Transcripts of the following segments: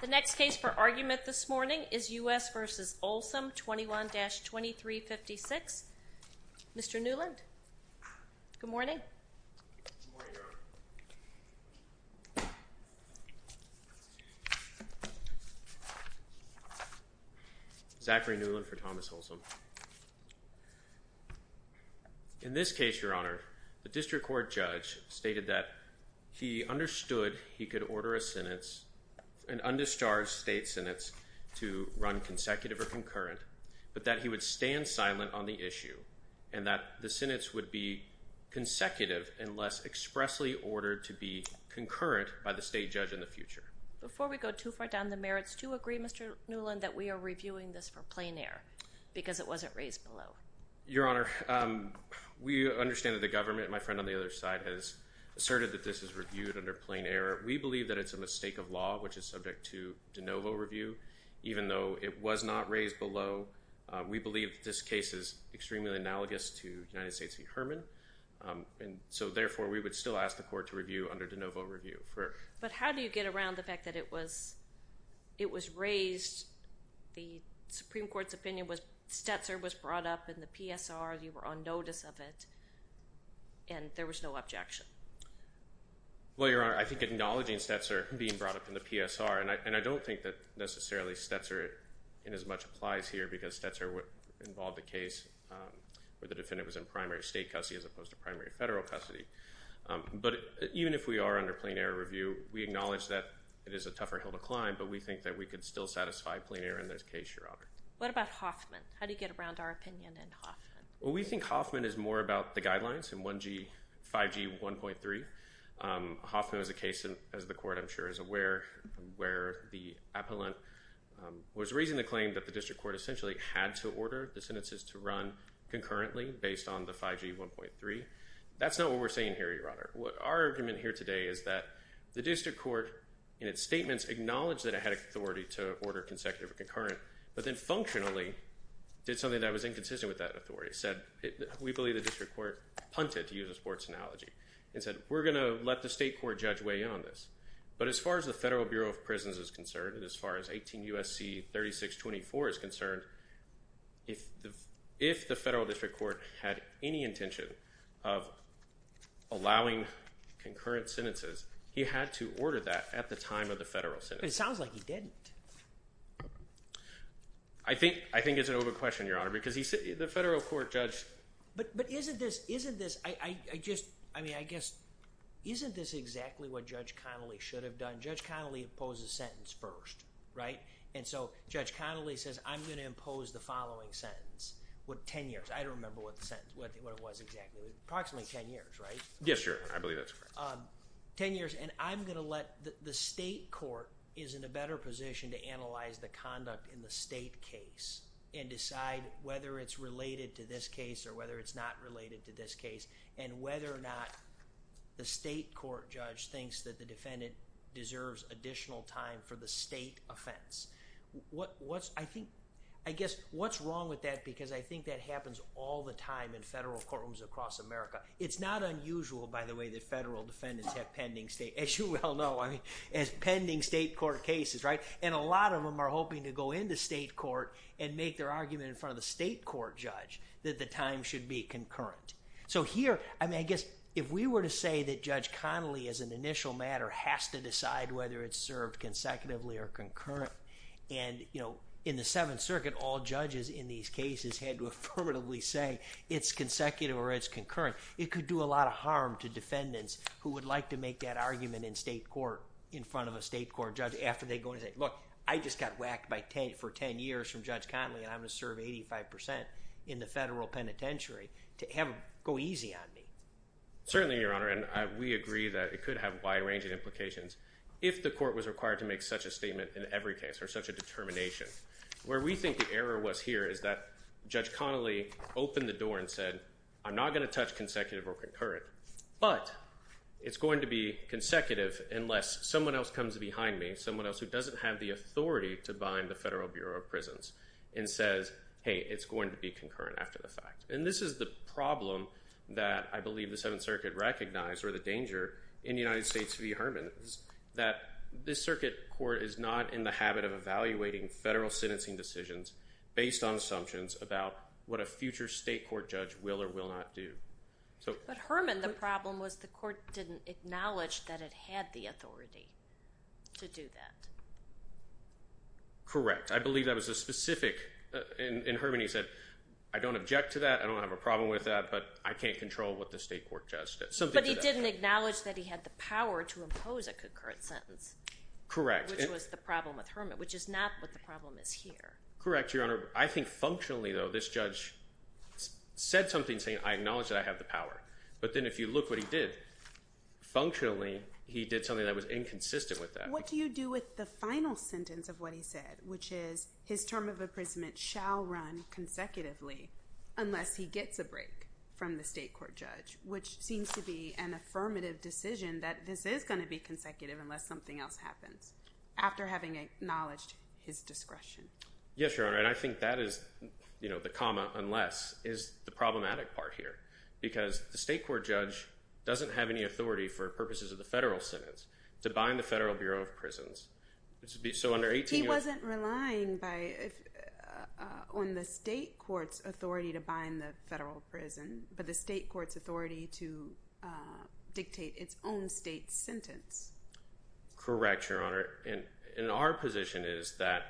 The next case for argument this morning is U.S. v. Olsem 21-2356. Mr. Newland, good morning. Zachary Newland Good morning, Your Honor. Zachary Newland for Thomas Olsem. In this case, Your Honor, the district court judge stated that he understood he could order a sentence, and underscores state senates to run consecutive or concurrent, but that he would stand silent on the issue and that the senates would be consecutive unless expressly ordered to be concurrent by the state judge in the future. Before we go too far down the merits, do you agree, Mr. Newland, that we are reviewing this for plain error because it wasn't raised below? Zachary Newland Your Honor, we understand that the government, my friend on the other side, has asserted that this is reviewed under plain error. We believe that it's a mistake of law, which is subject to de novo review, even though it was not raised below. We believe that this case is extremely analogous to United States v. Herman, and so therefore we would still ask the court to review under de novo review. But how do you get around the fact that it was raised, the Supreme Court's opinion was Stetzer was brought up in the PSR, you were on notice of it, and there was no objection? Zachary Newland Well, Your Honor, I think acknowledging Stetzer being brought up in the PSR, and I don't think that necessarily Stetzer in as much applies here because Stetzer involved a case where the defendant was in primary state custody as opposed to primary federal custody. But even if we are under plain error review, we acknowledge that it is a tougher hill to climb, but we think that we could still satisfy plain error in this case, Your Honor. What about Hoffman? How do you get around our opinion in Hoffman? Zachary Newland Well, we think Hoffman is more about the guidelines in 5G 1.3. Hoffman is a case, as the court I'm sure is aware, where the appellant was raising the claim that the district court essentially had to order the sentences to run concurrently based on the 5G 1.3. That's not what we're saying here, Your Honor. Our argument here today is that the district court in its statements acknowledged that it had authority to order consecutive or concurrent, but then functionally did something that was inconsistent with that authority. It said, we believe the district court punted, to use a sports analogy, and said, we're going to let the state court judge way on this. But as far as the Federal Bureau of Prisons is concerned and as far as 18 U.S.C. 3624 is concerned, if the federal district court had any intention of allowing concurrent sentences, he had to order that at the time of the federal sentence. It sounds like he didn't. I think it's an open question, Your Honor, because the federal court judged… But isn't this, isn't this, I just, I mean, I guess, isn't this exactly what Judge Connolly should have done? Judge Connolly imposed a sentence first, right? And so, Judge Connolly says, I'm going to impose the following sentence. What, 10 years. I don't remember what the sentence, what it was exactly. Approximately 10 years, right? Yes, Your Honor. I believe that's correct. 10 years, and I'm going to let, the state court is in a better position to analyze the conduct in the state case and decide whether it's related to this case or whether it's not related to this case, and whether or not the state court judge thinks that the defendant deserves additional time for the state offense. What, what's, I think, I guess, what's wrong with that? Because I think that happens all the time in federal courtrooms across America. It's not unusual, by the way, that federal defendants have pending state, as you well know, I mean, as pending state court cases, right? And a lot of them are hoping to go into state court and make their argument in front of the state court judge that the time should be concurrent. So here, I mean, I guess, if we were to say that Judge Connolly, as an initial matter, has to decide whether it's served consecutively or concurrent, and, you know, in the Seventh Circuit, all judges in these cases had to affirmatively say it's consecutive or it's concurrent. It could do a lot of harm to defendants who would like to make that argument in state court in front of a state court judge after they go in and say, look, I just got whacked by 10, for 10 years from Judge Connolly, and I'm going to serve 85% in the federal penitentiary to have him go easy on me. Certainly, Your Honor, and we agree that it could have a wide range of implications if the court was required to make such a statement in every case or such a determination. Where we think the error was here is that Judge Connolly opened the door and said, I'm not going to touch consecutive or concurrent, but it's going to be consecutive unless someone else comes behind me, someone else who doesn't have the authority to bind the Federal Bureau of Prisons, and says, hey, it's going to be concurrent after the fact. And this is the problem that I believe the Seventh Circuit recognized or the danger in the United States v. Herman, that this circuit court is not in the habit of evaluating federal sentencing decisions based on assumptions about what a future state court judge will or will not do. But Herman, the problem was the court didn't acknowledge that it had the authority to do that. Correct. I believe that was a specific, in Herman he said, I don't object to that, I don't have a problem with that, but I can't control what the state court judge does. But he didn't acknowledge that he had the power to impose a concurrent sentence. Correct. Which was the problem with Herman, which is not what the problem is here. Correct, Your Honor. I think functionally, though, this judge said something saying, I acknowledge that I have the power. But then if you look what he did, functionally, he did something that was inconsistent with that. But what do you do with the final sentence of what he said, which is his term of imprisonment shall run consecutively unless he gets a break from the state court judge, which seems to be an affirmative decision that this is going to be consecutive unless something else happens, after having acknowledged his discretion. Yes, Your Honor, and I think that is the comma unless is the problematic part here. Because the state court judge doesn't have any authority for purposes of the federal sentence to bind the Federal Bureau of Prisons. He wasn't relying on the state court's authority to bind the federal prison, but the state court's authority to dictate its own state sentence. Correct, Your Honor. And our position is that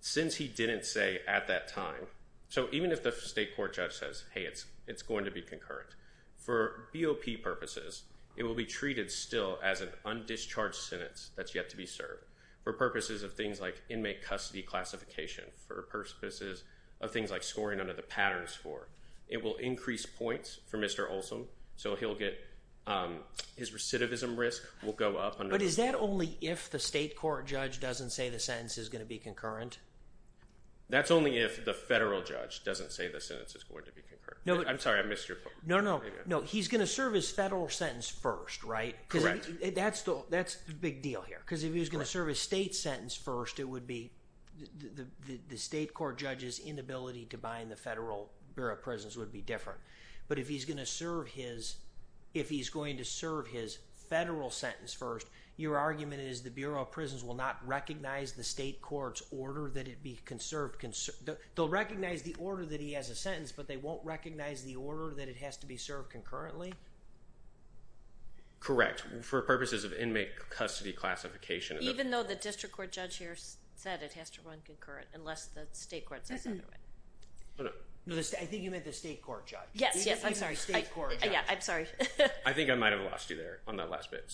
since he didn't say at that time, so even if the state court judge says, hey, it's going to be concurrent, for BOP purposes, it will be treated still as an undischarged sentence that's yet to be served. For purposes of things like inmate custody classification, for purposes of things like scoring under the patterns score, it will increase points for Mr. Olson, so his recidivism risk will go up. But is that only if the state court judge doesn't say the sentence is going to be concurrent? That's only if the federal judge doesn't say the sentence is going to be concurrent. I'm sorry, I missed your point. No, no, no. He's going to serve his federal sentence first, right? Correct. That's the big deal here, because if he was going to serve his state sentence first, it would be the state court judge's inability to bind the federal Bureau of Prisons would be different. But if he's going to serve his federal sentence first, your argument is the Bureau of Prisons will not recognize the state court's order that it be conserved. They'll recognize the order that he has a sentence, but they won't recognize the order that it has to be served concurrently? Correct. For purposes of inmate custody classification. Even though the district court judge here said it has to run concurrent, unless the state court says otherwise. I think you meant the state court judge. Yes, yes. I'm sorry. Yeah, I'm sorry. I think I might have lost you there on that last bit.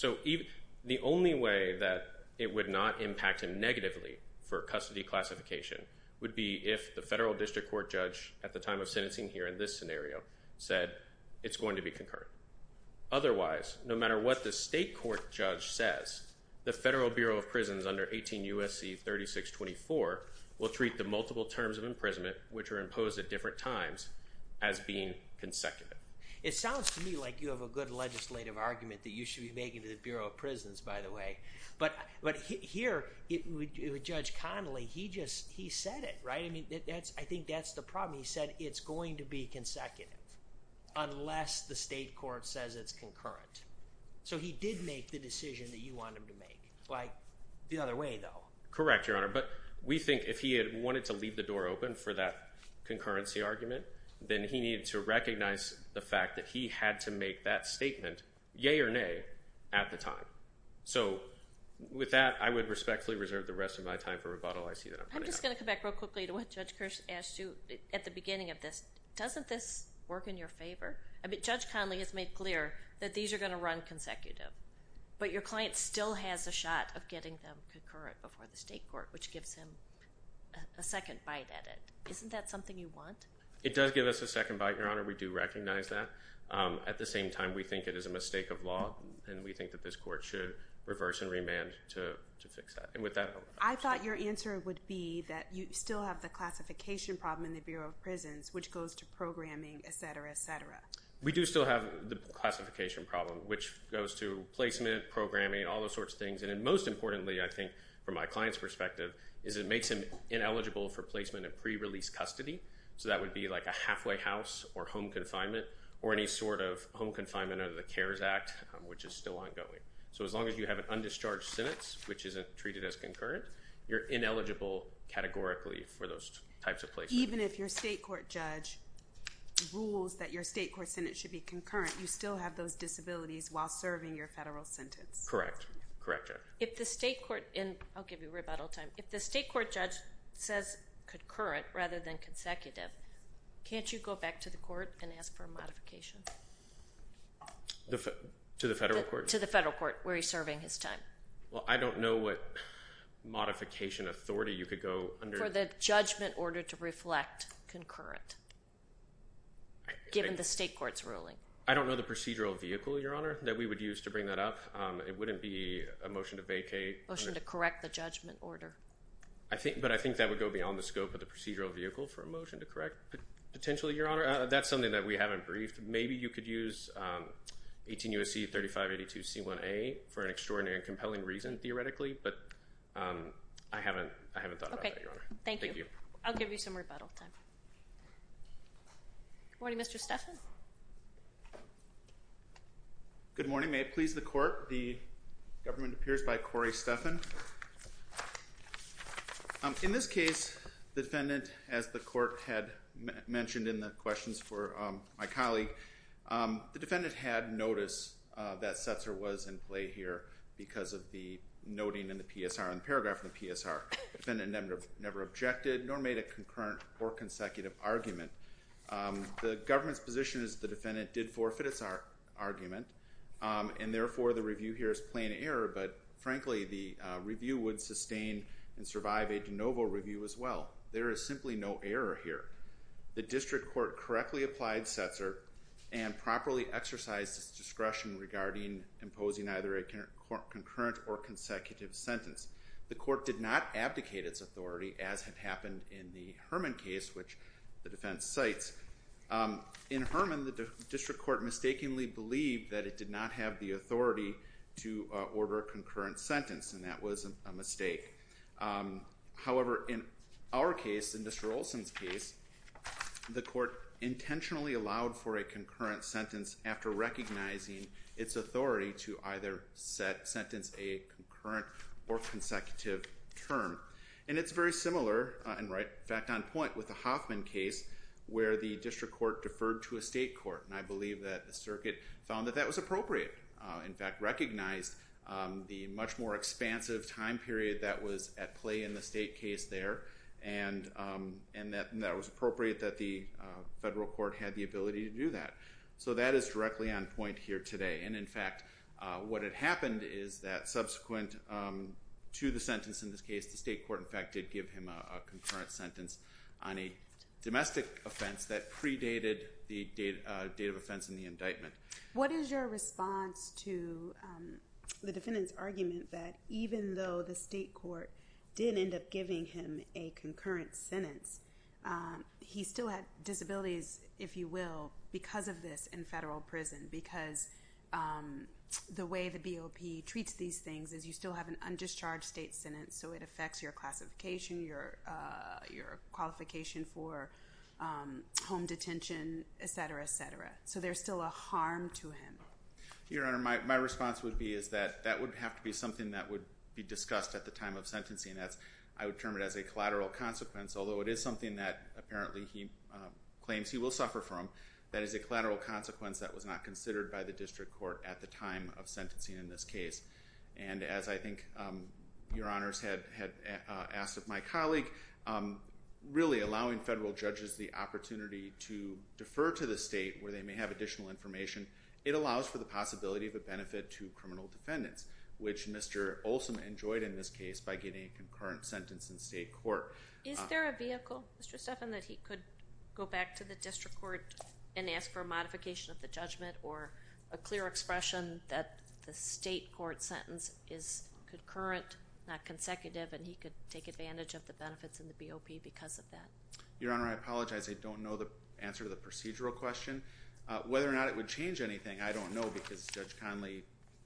The only way that it would not impact him negatively for custody classification would be if the federal district court judge at the time of sentencing here in this scenario said it's going to be concurrent. Otherwise, no matter what the state court judge says, the federal Bureau of Prisons under 18 U.S.C. 3624 will treat the multiple terms of imprisonment, which are imposed at different times, as being consecutive. It sounds to me like you have a good legislative argument that you should be making to the Bureau of Prisons, by the way. But here, Judge Connolly, he said it, right? I think that's the problem. He said it's going to be consecutive unless the state court says it's concurrent. So he did make the decision that you want him to make. The other way, though. Correct, Your Honor. But we think if he had wanted to leave the door open for that concurrency argument, then he needed to recognize the fact that he had to make that statement, yay or nay, at the time. So with that, I would respectfully reserve the rest of my time for rebuttal. I see that I'm running out of time. I'm just going to come back real quickly to what Judge Kirsch asked you at the beginning of this. Doesn't this work in your favor? I mean, Judge Connolly has made clear that these are going to run consecutive. But your client still has a shot of getting them concurrent before the state court, which gives him a second bite at it. Isn't that something you want? It does give us a second bite, Your Honor. We do recognize that. At the same time, we think it is a mistake of law, and we think that this court should reverse and remand to fix that. I thought your answer would be that you still have the classification problem in the Bureau of Prisons, which goes to programming, et cetera, et cetera. We do still have the classification problem, which goes to placement, programming, all those sorts of things. And most importantly, I think, from my client's perspective, is it makes him ineligible for placement in pre-release custody. So that would be like a halfway house or home confinement or any sort of home confinement under the CARES Act, which is still ongoing. So as long as you have an undischarged sentence, which isn't treated as concurrent, you're ineligible categorically for those types of placements. Even if your state court judge rules that your state court sentence should be concurrent, you still have those disabilities while serving your federal sentence? Correct. Correct, Your Honor. If the state court – and I'll give you rebuttal time – if the state court judge says concurrent rather than consecutive, can't you go back to the court and ask for a modification? To the federal court? To the federal court, where he's serving his time. Well, I don't know what modification authority you could go under. For the judgment order to reflect concurrent, given the state court's ruling. I don't know the procedural vehicle, Your Honor, that we would use to bring that up. It wouldn't be a motion to vacate. Motion to correct the judgment order. But I think that would go beyond the scope of the procedural vehicle for a motion to correct potentially, Your Honor. That's something that we haven't briefed. Maybe you could use 18 U.S.C. 3582C1A for an extraordinary and compelling reason, theoretically, but I haven't thought about that, Your Honor. Okay, thank you. Thank you. I'll give you some rebuttal time. Good morning, Mr. Stephan. Good morning. May it please the court, the government appears by Corey Stephan. In this case, the defendant, as the court had mentioned in the questions for my colleague, the defendant had notice that Setzer was in play here because of the noting in the PSR, in the paragraph in the PSR. The defendant never objected, nor made a concurrent or consecutive argument. The government's position is the defendant did forfeit its argument, and therefore, the review here is plain error. But frankly, the review would sustain and survive a de novo review as well. There is simply no error here. The district court correctly applied Setzer and properly exercised its discretion regarding imposing either a concurrent or consecutive sentence. The court did not abdicate its authority, as had happened in the Herman case, which the defense cites. In Herman, the district court mistakenly believed that it did not have the authority to order a concurrent sentence, and that was a mistake. However, in our case, in Mr. Olson's case, the court intentionally allowed for a concurrent sentence after recognizing its authority to either sentence a concurrent or consecutive term. And it's very similar, in fact, on point with the Hoffman case, where the district court deferred to a state court. And I believe that the circuit found that that was appropriate. In fact, recognized the much more expansive time period that was at play in the state case there, and that it was appropriate that the federal court had the ability to do that. So that is directly on point here today. And in fact, what had happened is that subsequent to the sentence in this case, the state court, in fact, did give him a concurrent sentence on a domestic offense that predated the date of offense in the indictment. What is your response to the defendant's argument that even though the state court did end up giving him a concurrent sentence, he still had disabilities, if you will, because of this in federal prison? Because the way the BOP treats these things is you still have an undischarged state sentence, so it affects your classification, your qualification for home detention, et cetera, et cetera. So there's still a harm to him. Your Honor, my response would be is that that would have to be something that would be discussed at the time of sentencing. I would term it as a collateral consequence, although it is something that apparently he claims he will suffer from. That is a collateral consequence that was not considered by the district court at the time of sentencing in this case. And as I think Your Honors had asked of my colleague, really allowing federal judges the opportunity to defer to the state where they may have additional information, it allows for the possibility of a benefit to criminal defendants, which Mr. Olson enjoyed in this case by getting a concurrent sentence in state court. Is there a vehicle, Mr. Stephan, that he could go back to the district court and ask for a modification of the judgment or a clear expression that the state court sentence is concurrent, not consecutive, and he could take advantage of the benefits in the BOP because of that? Your Honor, I apologize. I don't know the answer to the procedural question. Whether or not it would change anything, I don't know because Judge Conley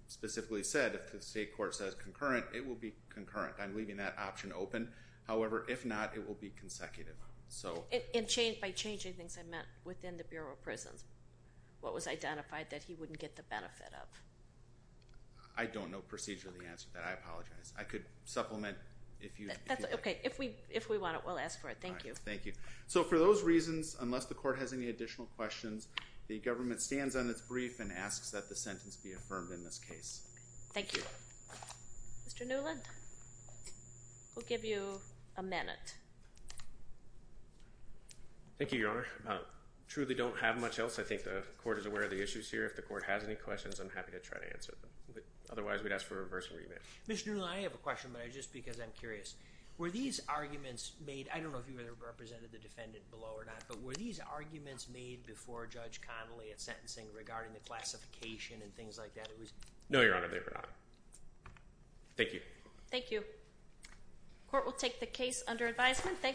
specifically said if the state court says concurrent, it will be concurrent. I'm leaving that option open. However, if not, it will be consecutive. And by changing things, I meant within the Bureau of Prisons. What was identified that he wouldn't get the benefit of? I don't know procedurally the answer to that. I apologize. I could supplement if you'd like. Okay. If we want it, we'll ask for it. Thank you. All right. Thank you. So for those reasons, unless the court has any additional questions, the government stands on its brief and asks that the sentence be affirmed in this case. Thank you. Mr. Newland, we'll give you a minute. Thank you, Your Honor. I truly don't have much else. I think the court is aware of the issues here. If the court has any questions, I'm happy to try to answer them. Otherwise, we'd ask for a reversal remit. Mr. Newland, I have a question, but just because I'm curious. Were these arguments made – I don't know if you represented the defendant below or not – but were these arguments made before Judge Conley at sentencing regarding the classification and things like that? No, Your Honor, they were not. Thank you. Thank you. The court will take the case under advisement.